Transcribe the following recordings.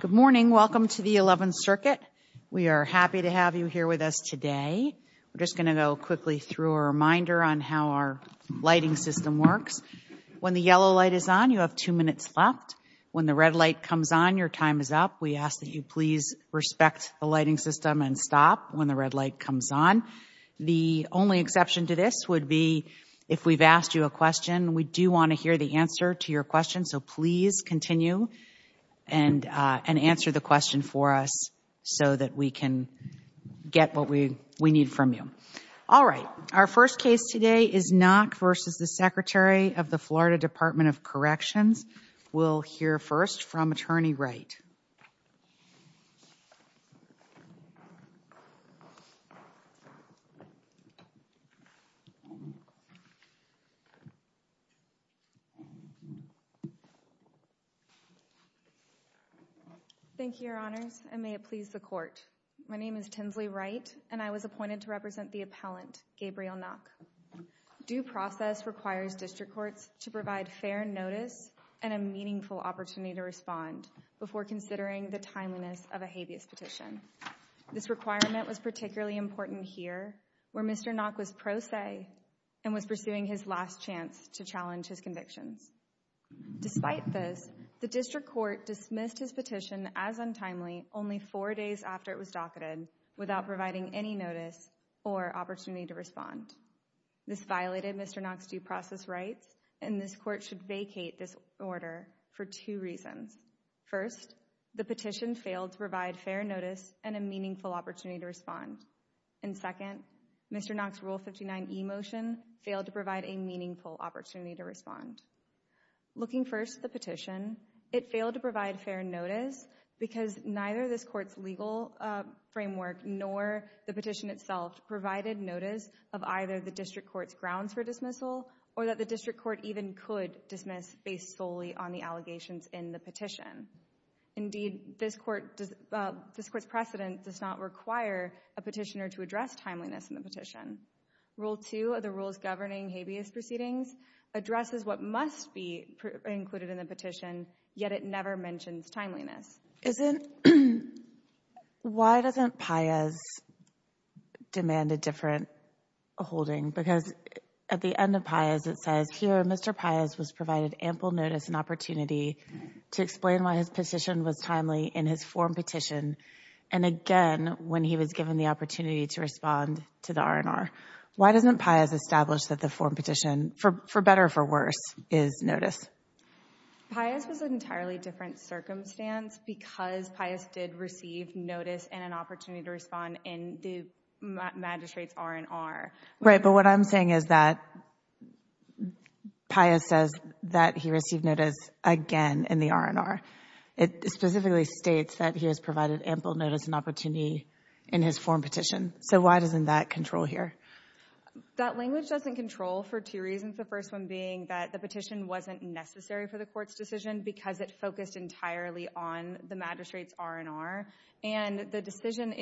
Good morning. Welcome to the 11th Circuit. We are happy to have you here with us today. We're just going to go quickly through a reminder on how our lighting system works. When the yellow light is on, you have two minutes left. When the red light comes on, your time is up. We ask that you please respect the lighting system and stop when the red light comes on. The only exception to this would be if we've asked you a question. We do want to hear the answer to your question, so please continue and answer the question for us so that we can get what we need from you. All right. Our first case today is Nock v. Secretary of the Florida Department of Corrections. We'll hear first from Attorney Wright. Thank you, Your Honors, and may it please the Court. My name is Tinsley Wright, and I was appointed to represent the appellant, Gabriel Nock. Due process requires district courts to provide fair notice and a meaningful opportunity to respond before considering the timeliness of a habeas petition. This requirement was particularly important here where Mr. Nock was pro se and was pursuing his last chance to challenge his convictions. Despite this, the district court dismissed his petition as untimely only four days after it was docketed without providing any notice or opportunity to respond. This violated Mr. Nock's due process rights, and this Court should vacate this order for two reasons. First, the petition failed to provide fair notice and a meaningful opportunity to respond. And second, Mr. Nock's Rule 59e motion failed to provide a meaningful opportunity to respond. Looking first at the petition, it failed to provide fair notice because neither this Court's legal framework nor the petition itself provided notice of either the district court's grounds for dismissal or that the district court even could dismiss based solely on the allegations in the petition. Indeed, this Court's precedent does not require a petitioner to address timeliness in the petition. Rule 2 of the Rules Governing Habeas Proceedings addresses what must be included in the petition, yet it never mentions timeliness. Why doesn't Paias demand a different holding? Because at the end of Paias it says, here Mr. Paias was provided ample notice and opportunity to explain why his petition was timely in his form petition, and again when he was given the opportunity to respond to the R&R. Why doesn't Paias establish that the form petition, for better or for worse, is notice? Paias was in an entirely different circumstance because Paias did receive notice and an opportunity to respond in the magistrate's R&R. Right, but what I'm saying is that Paias says that he received notice again in the R&R. It specifically states that he was provided ample notice and opportunity in his form petition. So why doesn't that control here? That language doesn't control for two reasons. The first one being that the petition wasn't necessary for the court's decision because it focused entirely on the magistrate's R&R. And the decision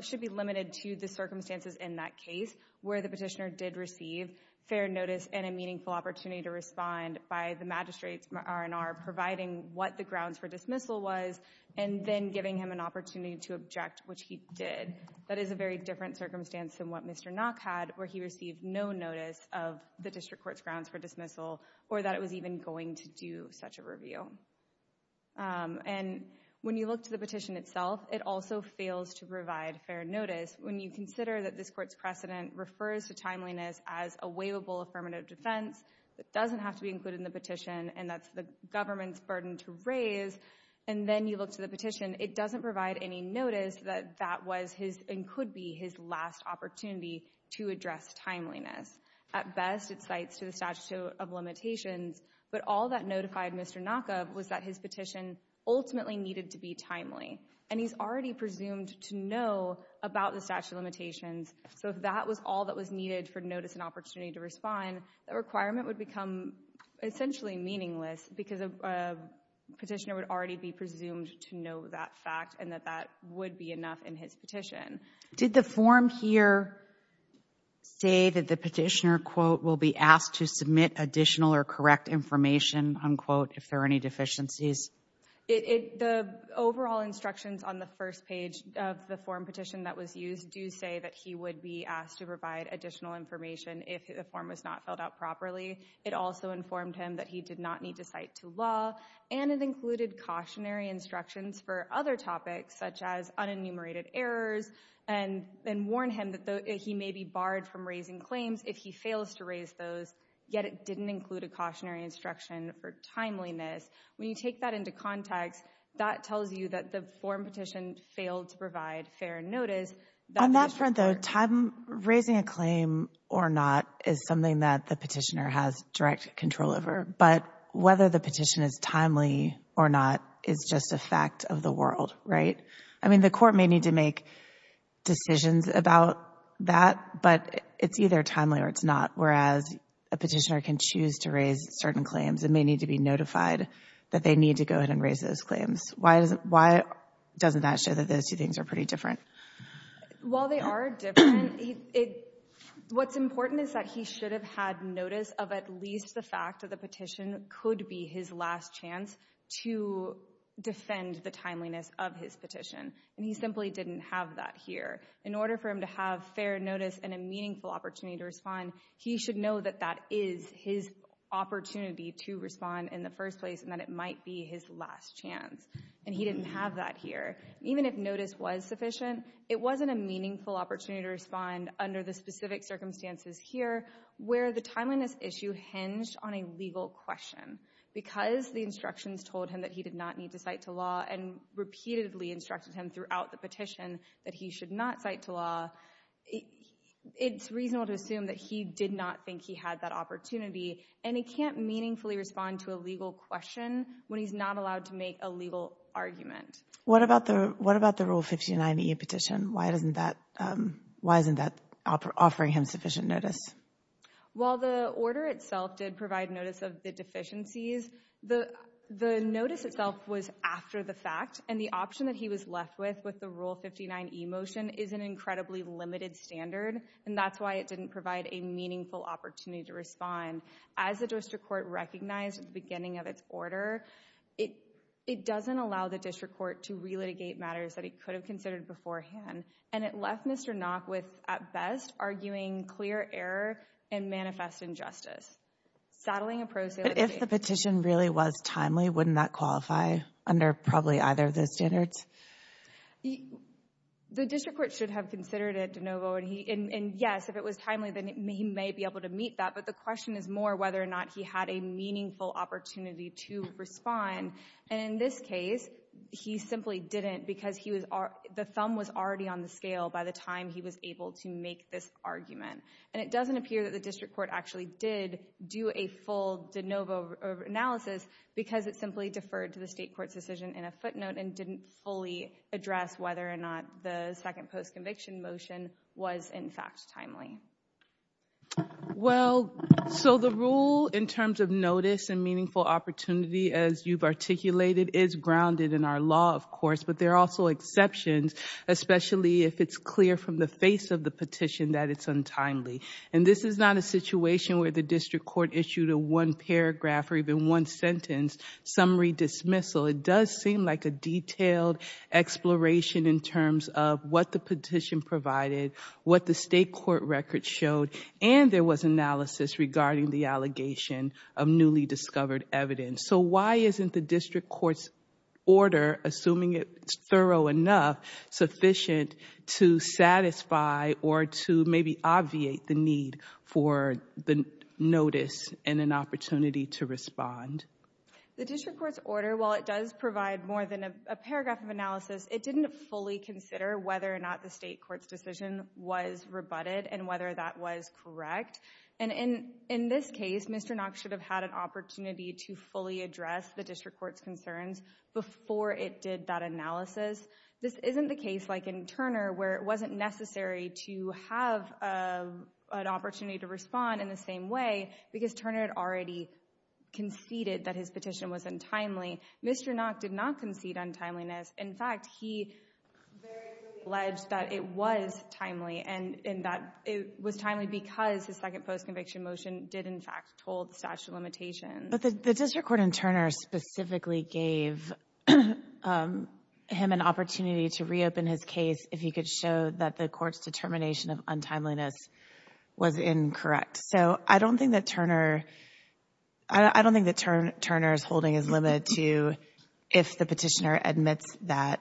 should be limited to the circumstances in that case where the petitioner did receive fair notice and a meaningful opportunity to respond by the magistrate's R&R providing what the grounds for dismissal was and then giving him an opportunity to object, which he did. That is a very different circumstance than what Mr. Nock had where he received no notice of the district court's grounds for dismissal or that it was even going to do such a review. And when you look to the petition itself, it also fails to provide fair notice. When you consider that this court's precedent refers to timeliness as a waivable affirmative defense that doesn't have to be included in the petition and that's the government's burden to raise, and then you look to the petition, it doesn't provide any notice that that was his and could be his last opportunity to address timeliness. At best, it cites to the statute of limitations, but all that notified Mr. Nock of was that his petition ultimately needed to be timely. And he's already presumed to know about the statute of limitations, so if that was all that was needed for notice and opportunity to respond, the requirement would become essentially meaningless because a petitioner would already be presumed to know that fact and that that would be enough in his petition. Did the form here say that the petitioner, quote, will be asked to submit additional or correct information, unquote, if there are any deficiencies? The overall instructions on the first page of the form petition that was used do say that he would be asked to provide additional information if the form was not filled out properly. It also informed him that he did not need to cite to law, and it included cautionary instructions for other topics, such as unenumerated errors, and warned him that he may be barred from raising claims if he fails to raise those, yet it didn't include a cautionary instruction for timeliness. When you take that into context, that tells you that the form petition failed to provide fair notice. On that front, though, raising a claim or not is something that the petitioner has direct control over, but whether the petition is timely or not is just a fact of the world, right? I mean, the court may need to make decisions about that, but it's either timely or it's not, whereas a petitioner can choose to raise certain claims and may need to be notified that they need to go ahead and raise those claims. Why doesn't that show that those two things are pretty different? While they are different, what's important is that he should have had notice of at least the fact that the petition could be his last chance to defend the timeliness of his petition, and he simply didn't have that here. In order for him to have fair notice and a meaningful opportunity to respond, he should know that that is his opportunity to respond in the first place and that it might be his last chance, and he didn't have that here. Even if notice was sufficient, it wasn't a meaningful opportunity to respond under the specific circumstances here where the timeliness issue hinged on a legal question. Because the instructions told him that he did not need to cite to law and repeatedly instructed him throughout the petition that he should not cite to law, it's reasonable to assume that he did not think he had that opportunity, and he can't meaningfully respond to a legal question when he's not allowed to make a legal argument. What about the Rule 59e petition? Why isn't that offering him sufficient notice? While the order itself did provide notice of the deficiencies, the notice itself was after the fact, and the option that he was left with with the Rule 59e motion is an incredibly limited standard, and that's why it didn't provide a meaningful opportunity to respond. As the district court recognized at the beginning of its order, it doesn't allow the district court to relitigate matters that it could have considered beforehand, and it left Mr. Nock with, at best, arguing clear error and manifest injustice. But if the petition really was timely, wouldn't that qualify under probably either of those The district court should have considered it, and yes, if it was timely, then he may be able to meet that, but the question is more whether or not he had a meaningful opportunity to respond, and in this case, he simply didn't because the thumb was already on the scale by the time he was able to make this argument, and it doesn't appear that the district court actually did do a full de novo analysis because it simply deferred to the state court's decision in a footnote and didn't fully address whether or not the second post-conviction motion was, in fact, timely. Well, so the rule in terms of notice and meaningful opportunity, as you've articulated, is grounded in our law, of course, but there are also exceptions, especially if it's clear from the face of the petition that it's untimely, and this is not a situation where the district court issued a one paragraph or even one sentence summary dismissal. It does seem like a detailed exploration in terms of what the petition provided, what the state court record showed, and there was analysis regarding the allegation of newly discovered evidence. So why isn't the district court's order, assuming it's thorough enough, sufficient to satisfy or to maybe obviate the need for the notice and an opportunity to respond? The district court's order, while it does provide more than a paragraph of analysis, it didn't fully consider whether or not the state court's decision was rebutted and whether that was correct, and in this case, Mr. Knox should have had an opportunity to fully address the district court's concerns before it did that analysis. This isn't the case, like in Turner, where it wasn't necessary to have an opportunity to respond in the same way because Turner had already conceded that his petition was untimely. Mr. Knox did not concede untimeliness. In fact, he very clearly alleged that it was timely and that it was timely because his second post-conviction motion did, in fact, hold the statute of limitations. But the district court in Turner specifically gave him an opportunity to reopen his case if he could show that the court's determination of untimeliness was incorrect. So I don't think that Turner's holding is limited to if the petitioner admits that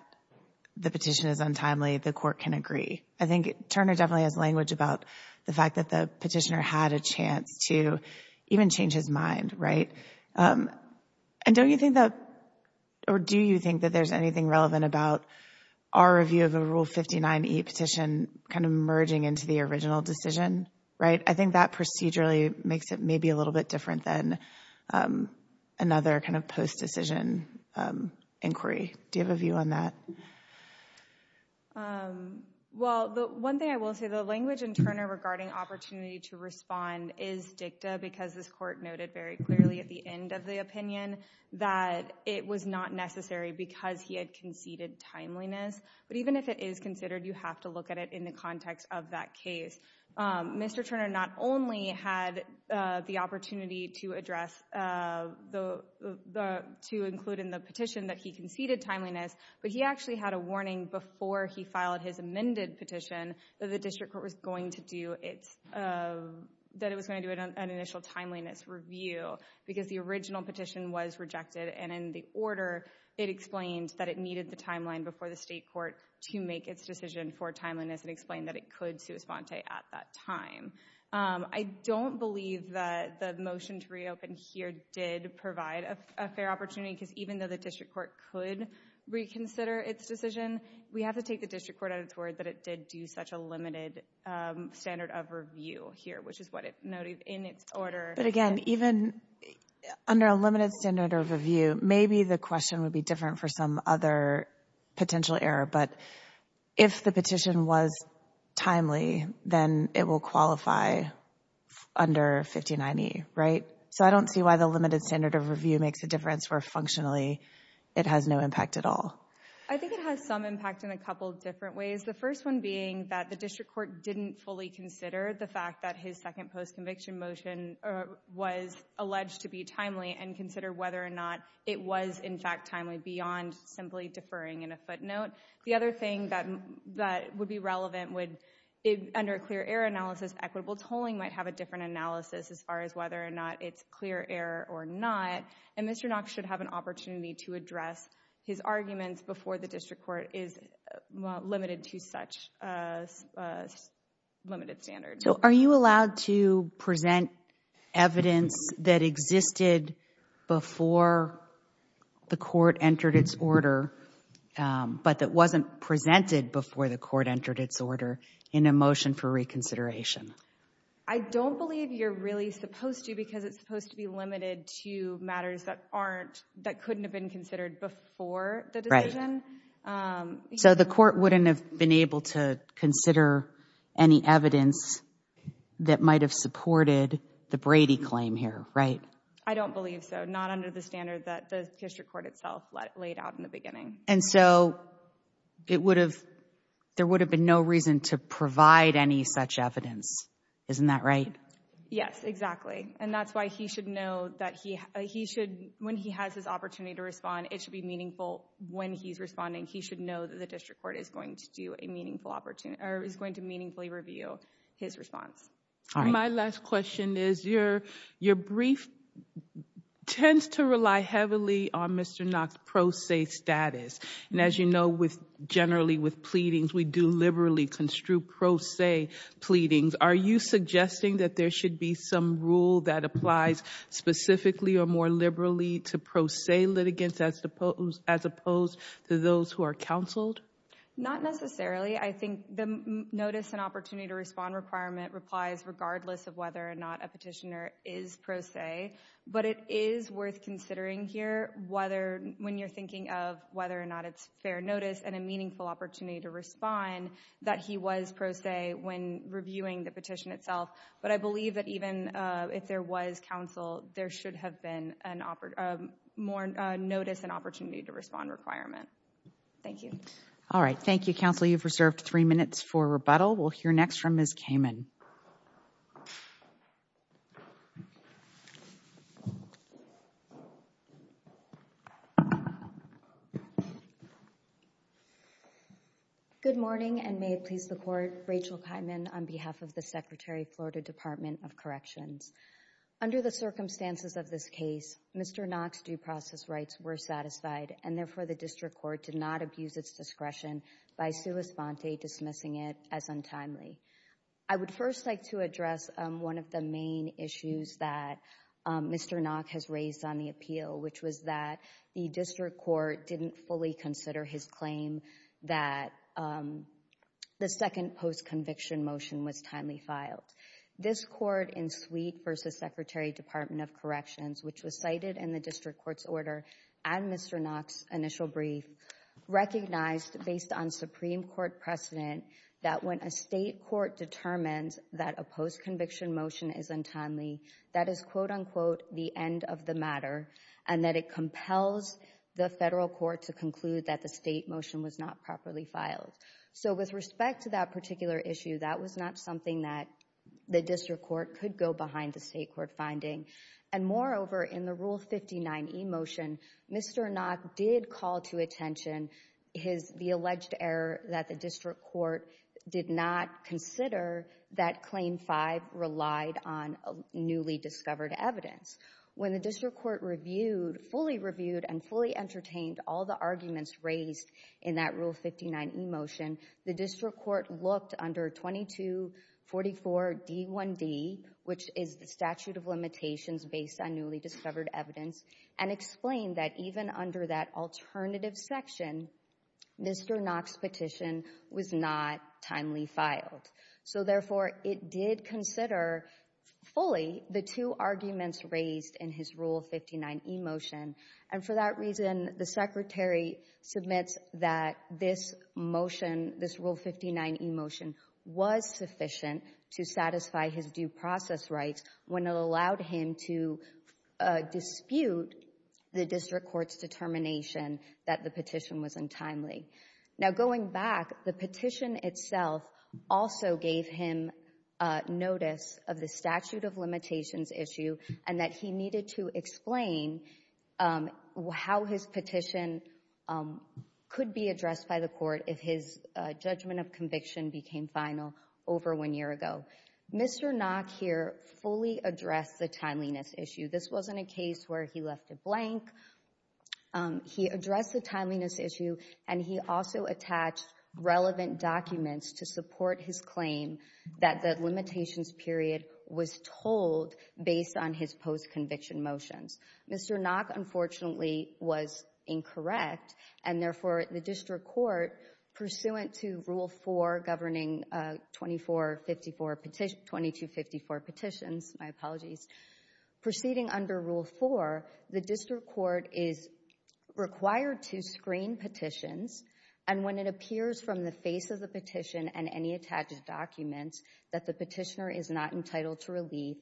the petition is untimely, the court can agree. I think Turner definitely has language about the fact that the petitioner had a chance to even change his mind, right? And don't you think that, or do you think that there's anything relevant about our review of a Rule 59e petition kind of merging into the original decision, right? I think that procedurally makes it maybe a little bit different than another kind of post-decision inquiry. Do you have a view on that? Well, the one thing I will say, the language in Turner regarding opportunity to respond is dicta because this court noted very clearly at the end of the opinion that it was not necessary because he had conceded timeliness. But even if it is considered, you have to look at it in the context of that case. Mr. Turner not only had the opportunity to address, to include in the petition that he conceded timeliness, but he actually had a warning before he filed his amended petition that the district court was going to do its, that it was going to do an initial timeliness review because the original petition was rejected and in the order it explained that it needed the timeline before the state court to make its decision for timeliness and explained that it could sui sponte at that time. I don't believe that the motion to reopen here did provide a fair opportunity because even though the district court could reconsider its decision, we have to take the district court at its word that it did do such a limited standard of review here, which is what it noted in its order. But again, even under a limited standard of review, maybe the question would be different for some other potential error. But if the petition was timely, then it will qualify under 1590, right? So I don't see why the limited standard of review makes a difference where functionally it has no impact at all. I think it has some impact in a couple of different ways. The first one being that the district court didn't fully consider the fact that his second post-conviction motion was alleged to be timely and consider whether or not it was in fact timely beyond simply deferring in a footnote. The other thing that would be relevant would, under a clear error analysis, equitable tolling might have a different analysis as far as whether or not it's clear error or not. And Mr. Knox should have an opportunity to address his arguments before the district court is limited to such limited standards. So are you allowed to present evidence that existed before the court entered its order, but that wasn't presented before the court entered its order in a motion for reconsideration? I don't believe you're really supposed to because it's supposed to be limited to matters that aren't, that couldn't have been considered before the decision. So the court wouldn't have been able to consider any evidence that might have supported the Brady claim here, right? I don't believe so. Not under the standard that the district court itself laid out in the beginning. And so it would have, there would have been no reason to provide any such evidence, isn't that right? Yes, exactly. And that's why he should know that he should, when he has this opportunity to respond, it should be meaningful when he's responding. He should know that the district court is going to do a meaningful opportunity, or is going to meaningfully review his response. My last question is, your brief tends to rely heavily on Mr. Knox' pro se status. And as you know, with generally with pleadings, we do liberally construe pro se pleadings. Are you suggesting that there should be some rule that applies specifically or more liberally to pro se litigants as opposed to those who are counseled? Not necessarily. I think the notice and opportunity to respond requirement replies regardless of whether or not a petitioner is pro se. But it is worth considering here whether, when you're thinking of whether or not it's fair notice and a meaningful opportunity to respond, that he was pro se when reviewing the petition itself. But I believe that even if there was counsel, there should have been more notice and opportunity to respond requirement. Thank you. All right. Thank you, counsel. You've reserved three minutes for rebuttal. We'll hear next from Ms. Kamen. Good morning, and may it please the Court, Rachel Kamen on behalf of the Secretary of the Florida Department of Corrections. Under the circumstances of this case, Mr. Knox' due process rights were satisfied, and therefore the district court did not abuse its discretion by sua sponte dismissing it as untimely. I would first like to address one of the main issues that Mr. Knox has raised on the appeal, which was that the district court didn't fully consider his claim that the second post-conviction motion was timely filed. This court in Sweet v. Secretary of the Department of Corrections, which was cited in the district court's order and Mr. Knox' initial brief, recognized based on Supreme Court precedent that when a state court determines that a post-conviction motion is untimely, that is quote-unquote the end of the matter, and that it compels the federal court to conclude that the state motion was not properly filed. So with respect to that particular issue, that was not something that the district court could go behind the state court finding. And moreover, in the Rule 59e motion, Mr. Knox did call to attention the alleged error that the district court did not consider that Claim 5 relied on newly discovered evidence. When the district court reviewed, fully reviewed and fully entertained all the arguments raised in that Rule 59e motion, the district court looked under 2244d1d, which is the statute of limitations based on newly discovered evidence, and explained that even under that alternative section, Mr. Knox' petition was not timely filed. So therefore, it did consider fully the two arguments raised in his Rule 59e motion. And for that reason, the Secretary submits that this motion, this Rule 59e motion was sufficient to satisfy his due process rights when it allowed him to dispute the district court's determination that the petition was untimely. Now going back, the petition itself also gave him notice of the statute of limitations issue and that he needed to explain how his petition could be addressed by the court if his judgment of conviction became final over one year ago. Mr. Knox here fully addressed the timeliness issue. This wasn't a case where he left it blank. He addressed the timeliness issue and he also attached relevant documents to support his claim that the limitations period was told based on his post-conviction motions. Mr. Knox, unfortunately, was incorrect and therefore the district court, pursuant to Rule 4 governing 2254 petitions, my apologies, proceeding under Rule 4, the district court is required to screen petitions and when it appears from the face of the petition and any attached documents that the petitioner is not entitled to relief,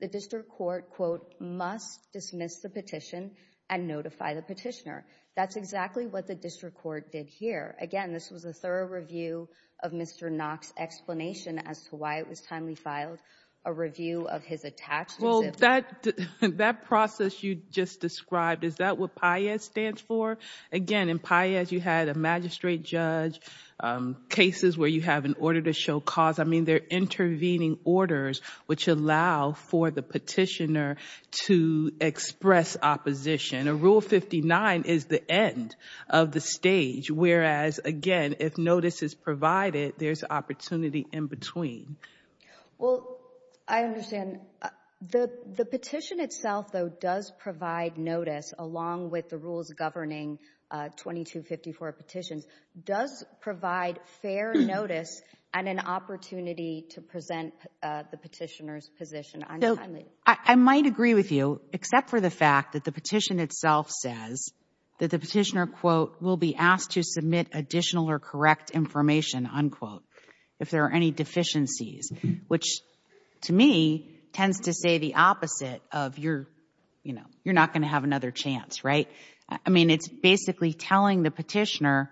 the district court quote, must dismiss the petition and notify the petitioner. That's exactly what the district court did here. Again, this was a thorough review of Mr. Knox' explanation as to why it was timely filed, a review of his attachments. That process you just described, is that what PIAS stands for? Again, in PIAS you had a magistrate judge, cases where you have an order to show cause. I mean, they're intervening orders which allow for the petitioner to express opposition. Rule 59 is the end of the stage, whereas, again, if notice is provided, there's opportunity in between. Well, I understand. The petition itself, though, does provide notice along with the rules governing 2254 petitions, does provide fair notice and an opportunity to present the petitioner's position untimely. I might agree with you, except for the fact that the petition itself says that the petitioner quote, will be asked to submit additional or correct information, unquote, if there are any deficiencies, which to me, tends to say the opposite of you're not going to have another chance, right? I mean, it's basically telling the petitioner,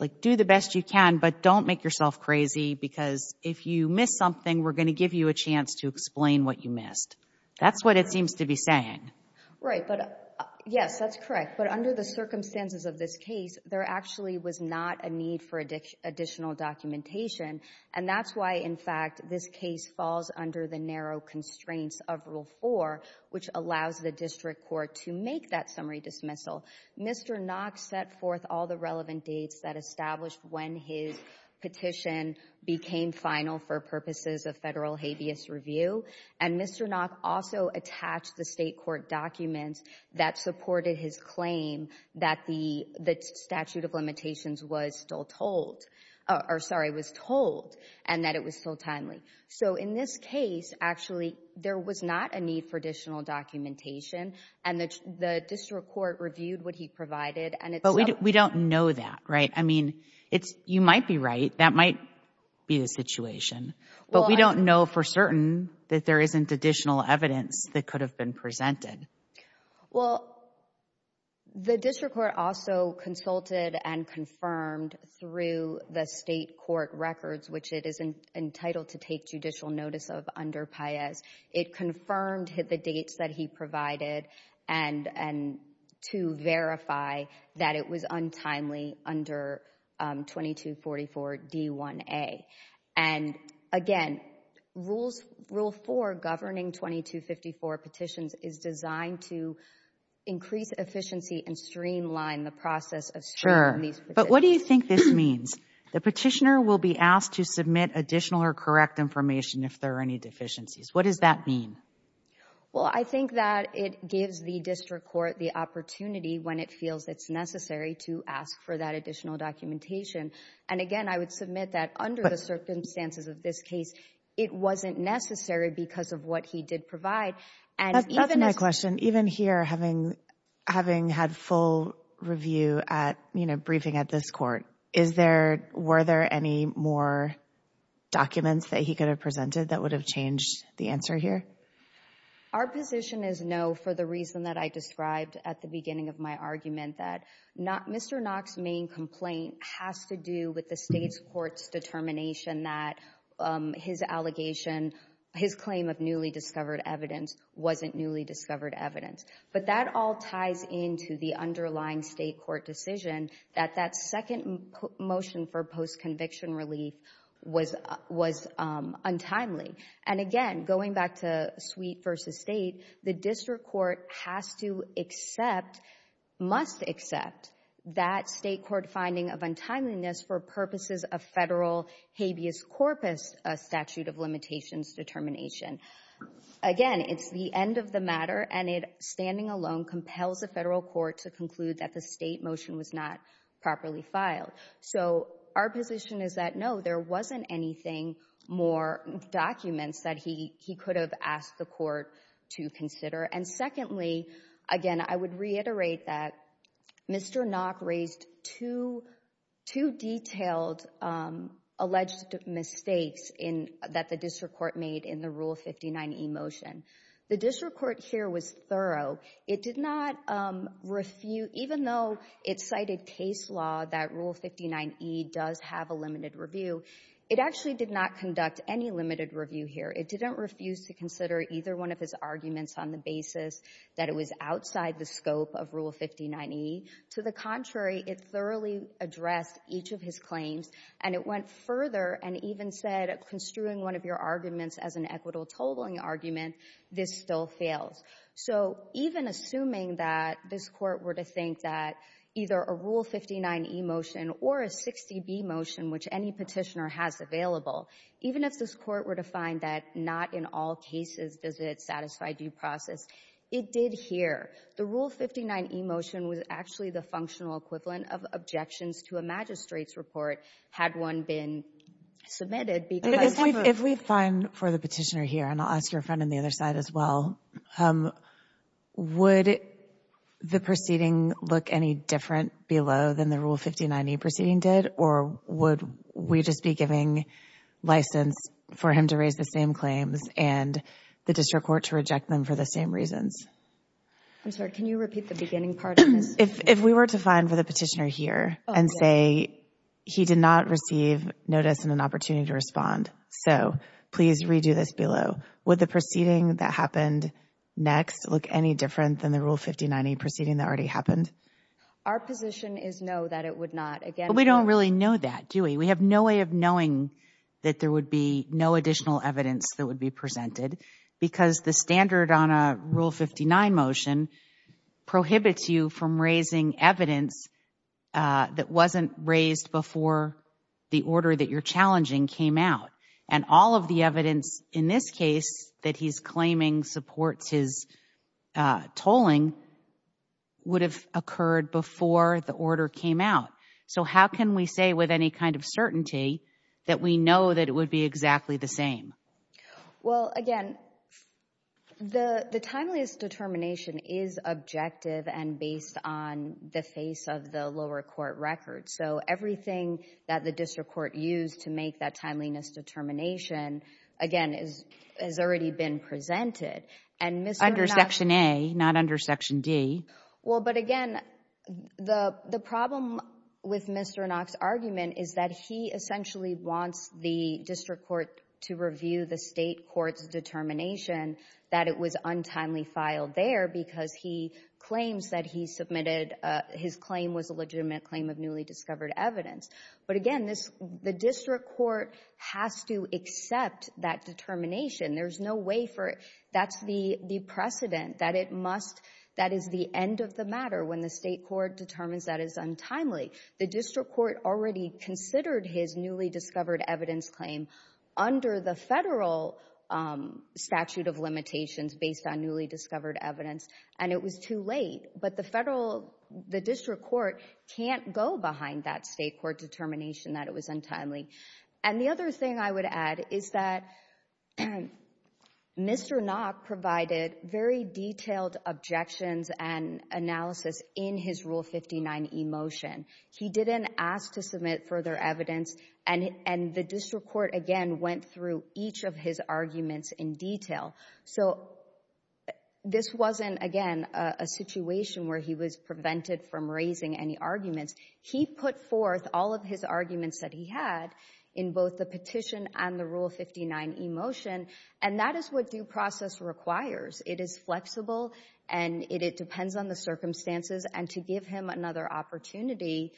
like, do the best you can, but don't make yourself crazy because if you miss something, we're going to give you a chance to explain what you missed. That's what it seems to be saying. Right, but yes, that's correct, but under the circumstances of this case, there actually was not a need for additional documentation, and that's why, in fact, this case falls under the narrow constraints of Rule 4, which allows the district court to make that summary dismissal. Mr. Knox set forth all the relevant dates that established when his petition became final for purposes of federal habeas review, and Mr. Knox also attached the state court documents that supported his claim that the statute of limitations was still told, or sorry, was told, and that it was still timely. So in this case, actually, there was not a need for additional documentation, and the district court reviewed what he provided, and it's up to the district court to decide But we don't know that, right? I mean, you might be right. That might be the situation, but we don't know for certain that there isn't additional evidence that could have been presented. Well, the district court also consulted and confirmed through the state court records, which it is entitled to take judicial notice of under Paez. It confirmed the dates that he provided to verify that it was untimely under 2244 D1A. And again, Rule 4 governing 2254 petitions is designed to increase efficiency and streamline the process of screening these petitions. But what do you think this means? The petitioner will be asked to submit additional or correct information if there are any deficiencies. What does that mean? Well, I think that it gives the district court the opportunity, when it feels it's necessary, to ask for that additional documentation. And again, I would submit that under the circumstances of this case, it wasn't necessary because of what he did provide. And even— That's another question. Even here, having had full review at, you know, briefing at this court, is there, were there any more documents that he could have presented that would have changed the answer here? Our position is no for the reason that I described at the beginning of my argument, that Mr. Knox's main complaint has to do with the state's court's determination that his allegation, his claim of newly discovered evidence wasn't newly discovered evidence. But that all ties into the underlying state court decision that that second motion for post-conviction relief was untimely. And again, going back to suite versus state, the district court has to accept, must accept, that state court finding of untimeliness for purposes of federal habeas corpus statute of limitations determination. Again, it's the end of the matter, and it, standing alone, compels the federal court to conclude that the state motion was not properly filed. So, our position is that no, there wasn't anything more documents that he could have asked the court to consider. And secondly, again, I would reiterate that Mr. Knox raised two, two detailed alleged mistakes in, that the district court made in the Rule 59e motion. The district court here was thorough. It did not refu, even though it cited case law that Rule 59e does have a limited review, it actually did not conduct any limited review here. It didn't refuse to consider either one of his arguments on the basis that it was outside the scope of Rule 59e. To the contrary, it thoroughly addressed each of his claims, and it went further and even said construing one of your arguments as an equitable totaling argument, this still fails. So, even assuming that this court were to think that either a Rule 59e motion or a 60b motion, which any petitioner has available, even if this court were to find that not in all cases does it satisfy due process, it did here. The Rule 59e motion was actually the functional equivalent of objections to a magistrate's report, had one been submitted, because we've. If we find for the petitioner here, and I'll ask your friend on the other side as well, would the proceeding look any different below than the Rule 59e proceeding did, or would we just be giving license for him to raise the same claims and the district court to reject them for the same reasons? I'm sorry, can you repeat the beginning part of this? If we were to find for the petitioner here and say he did not receive notice and an opportunity to respond, so please redo this below, would the proceeding that happened next look any different than the Rule 59e proceeding that already happened? Our position is no, that it would not. Again, we don't really know that, do we? We have no way of knowing that there would be no additional evidence that would be presented because the standard on a Rule 59 motion prohibits you from raising evidence that wasn't raised before the order that you're challenging came out. And all of the evidence in this case that he's claiming supports his tolling would have occurred before the order came out. So how can we say with any kind of certainty that we know that it would be exactly the Well, again, the timeliest determination is objective and based on the face of the lower court record. So everything that the district court used to make that timeliness determination, again, has already been presented. And Mr. Inox Under Section A, not under Section D. Well, but again, the problem with Mr. Inox's argument is that he essentially wants the district court to review the state court's determination that it was untimely filed there because he claims that he submitted his claim was a legitimate claim of newly discovered evidence. But again, the district court has to accept that determination. There's no way for it. That's the precedent that it must. That is the end of the matter when the state court determines that is untimely. The district court already considered his newly discovered evidence claim under the federal statute of limitations based on newly discovered evidence. And it was too late. But the district court can't go behind that state court determination that it was untimely. And the other thing I would add is that Mr. Inox provided very detailed objections and analysis in his Rule 59e motion. He didn't ask to submit further evidence. And the district court, again, went through each of his arguments in detail. So this wasn't, again, a situation where he was prevented from raising any arguments. He put forth all of his arguments that he had in both the petition and the Rule 59e motion. And that is what due process requires. It is flexible, and it depends on the circumstances. And to give him another opportunity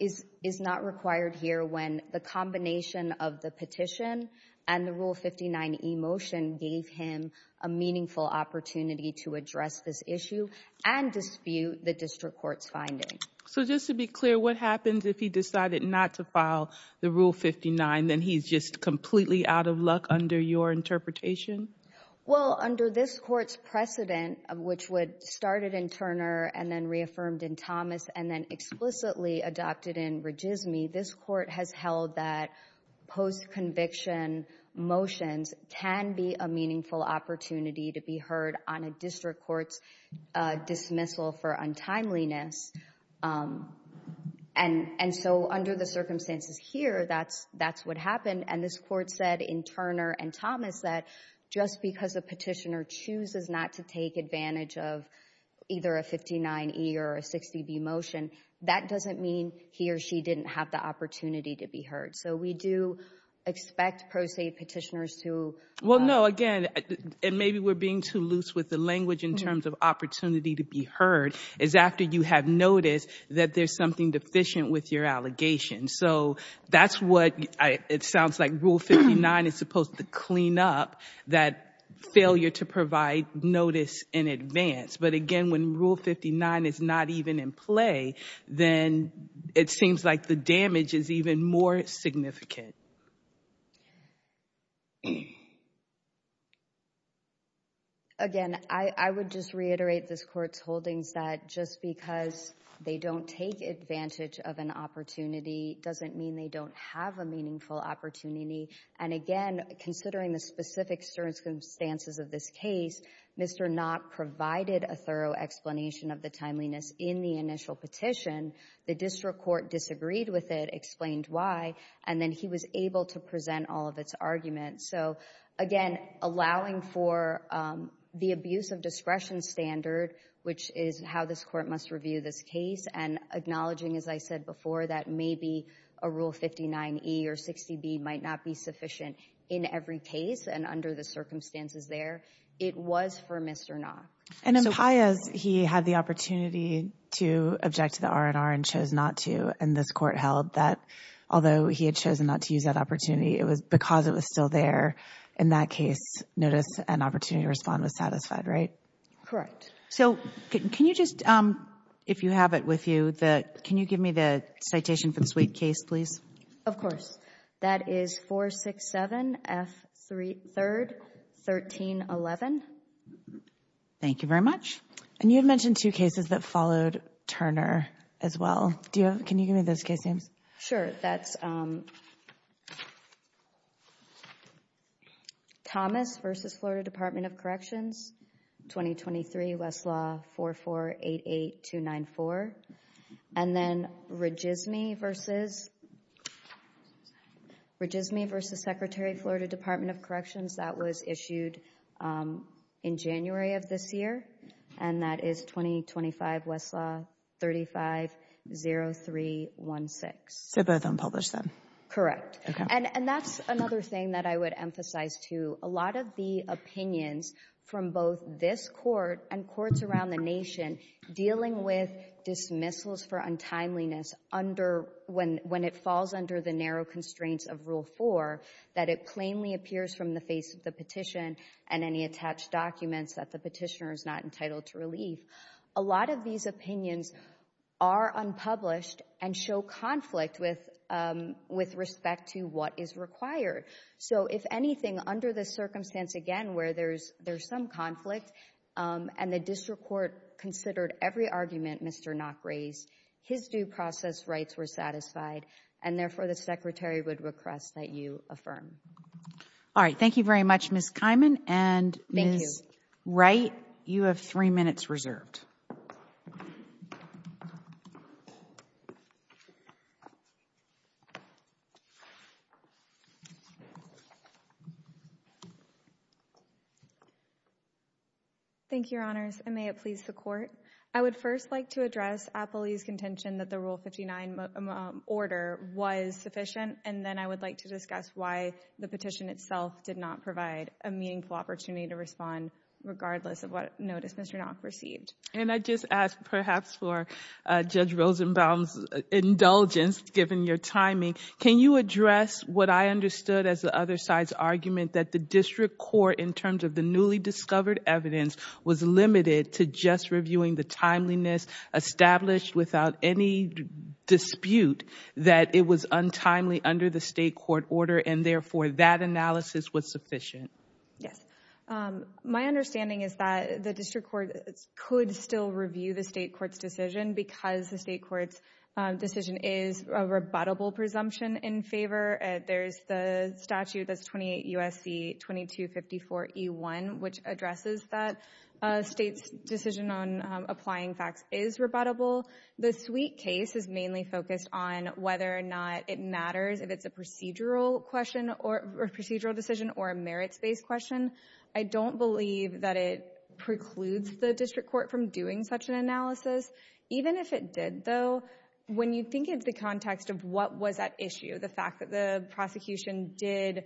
is not required here when the combination of the petition and the Rule 59e motion gave him a meaningful opportunity to address this issue and dispute the district court's finding. So just to be clear, what happens if he decided not to file the Rule 59, then he's just completely out of luck under your interpretation? Well, under this Court's precedent, which started in Turner and then reaffirmed in Thomas and then explicitly adopted in Regisme, this Court has held that post-conviction motions can be a meaningful opportunity to be heard on a district court's dismissal for untimeliness. And so under the circumstances here, that's what happened. And this Court said in Turner and Thomas that just because a petitioner chooses not to take advantage of either a 59e or a 60b motion, that doesn't mean he or she didn't have the opportunity to be heard. So we do expect pro se petitioners to... Well, no, again, and maybe we're being too loose with the language in terms of opportunity to be heard, is after you have noticed that there's something deficient with your allegation. So that's what it sounds like Rule 59 is supposed to clean up that failure to provide notice in advance. But again, when Rule 59 is not even in play, then it seems like the damage is even more significant. Again, I would just reiterate this Court's holdings that just because they don't take advantage of an opportunity doesn't mean they don't have a meaningful opportunity. And again, considering the specific circumstances of this case, Mr. Knott provided a thorough explanation of the timeliness in the initial petition. The district court disagreed with it, explained why, and then he was able to present all of its arguments. So again, allowing for the abuse of discretion standard, which is how this Court must review this case, and acknowledging, as I said before, that maybe a Rule 59E or 60B might not be sufficient in every case and under the circumstances there. It was for Mr. Knott. And in Paez, he had the opportunity to object to the R&R and chose not to, and this Court held that although he had chosen not to use that opportunity, it was because it was still there. In that case, notice and opportunity to respond was satisfied, right? Correct. So, can you just, if you have it with you, can you give me the citation for the suite case, please? Of course. That is 467F3, 1311. Thank you very much. And you had mentioned two cases that followed Turner as well. Can you give me those case names? Sure. That's Thomas v. Florida Department of Corrections, 2023, Westlaw 4488294. And then Regisme v. Secretary Florida Department of Corrections, that was issued in January of this year, and that is 2025, Westlaw 350316. So both unpublished then? Correct. And that's another thing that I would emphasize, too. A lot of the opinions from both this Court and courts around the nation dealing with dismissals for untimeliness under, when it falls under the narrow constraints of Rule 4, that it plainly appears from the face of the petition and any attached documents that the petitioner is not entitled to relief, a lot of these opinions are unpublished and show conflict with respect to what is required. So if anything, under the circumstance, again, where there's some conflict, and the District Court considered every argument Mr. Nock raised, his due process rights were satisfied, and therefore, the Secretary would request that you affirm. All right. Thank you very much, Ms. Kiman. Thank you. And Ms. Wright, you have three minutes reserved. Thank you, Your Honors, and may it please the Court. I would first like to address Apley's contention that the Rule 59 order was sufficient, and then I would like to discuss why the petition itself did not provide a meaningful opportunity to respond, regardless of what notice Mr. Nock received. And I just ask, perhaps, for Judge Rosenbaum's indulgence, given your timing. Can you address what I understood as the other side's argument, that the District Court, in terms of the newly discovered evidence, was limited to just reviewing the timeliness established without any dispute, that it was untimely under the State Court order, and therefore, that analysis was sufficient? Yes. My understanding is that the District Court could still review the State Court's decision, because the State Court's decision is a rebuttable presumption in favor. There's the statute that's 28 U.S.C. 2254 E.1, which addresses that State's decision on applying facts is rebuttable. The Sweet case is mainly focused on whether or not it matters if it's a procedural decision or a merits-based question. I don't believe that it precludes the District Court from doing such an analysis. Even if it did, though, when you think into the context of what was at issue, the fact that the prosecution did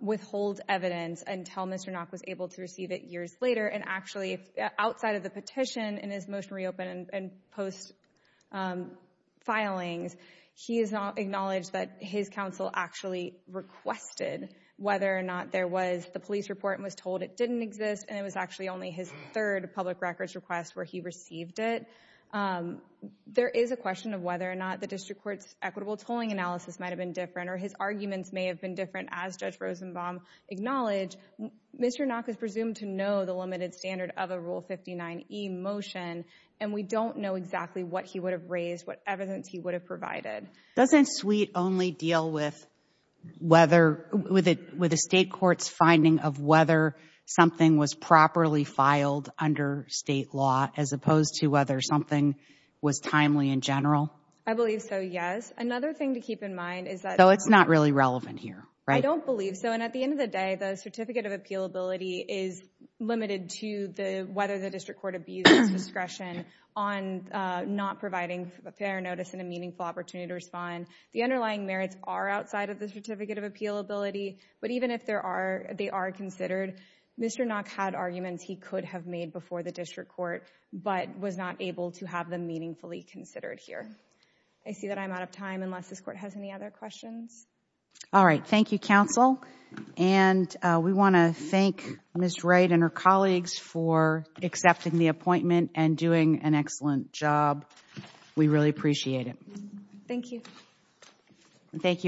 withhold evidence until Mr. Nock was able to receive it years later, and actually, outside of the petition in his motion reopen and post filings, he has acknowledged that his counsel actually requested whether or not there was the police report and was told it didn't exist, and it was actually only his third public records request where he received it. There is a question of whether or not the District Court's equitable tolling analysis might have been different, or his arguments may have been different, as Judge Rosenbaum acknowledged. Mr. Nock is presumed to know the limited standard of a Rule 59e motion, and we don't know exactly what he would have raised, what evidence he would have provided. Doesn't Sweet only deal with a State court's finding of whether something was properly filed under State law, as opposed to whether something was timely in general? I believe so, yes. Another thing to keep in mind is that— Though it's not really relevant here, right? I don't believe so. And at the end of the day, the Certificate of Appealability is limited to whether the District Court abused its discretion on not providing a fair notice and a meaningful opportunity to respond. The underlying merits are outside of the Certificate of Appealability, but even if they are considered, Mr. Nock had arguments he could have made before the District Court, but was not able to have them meaningfully considered here. I see that I'm out of time, unless this Court has any other questions. All right. Thank you, Counsel. And we want to thank Ms. Wright and her colleagues for accepting the appointment and doing an excellent job. We really appreciate it. Thank you.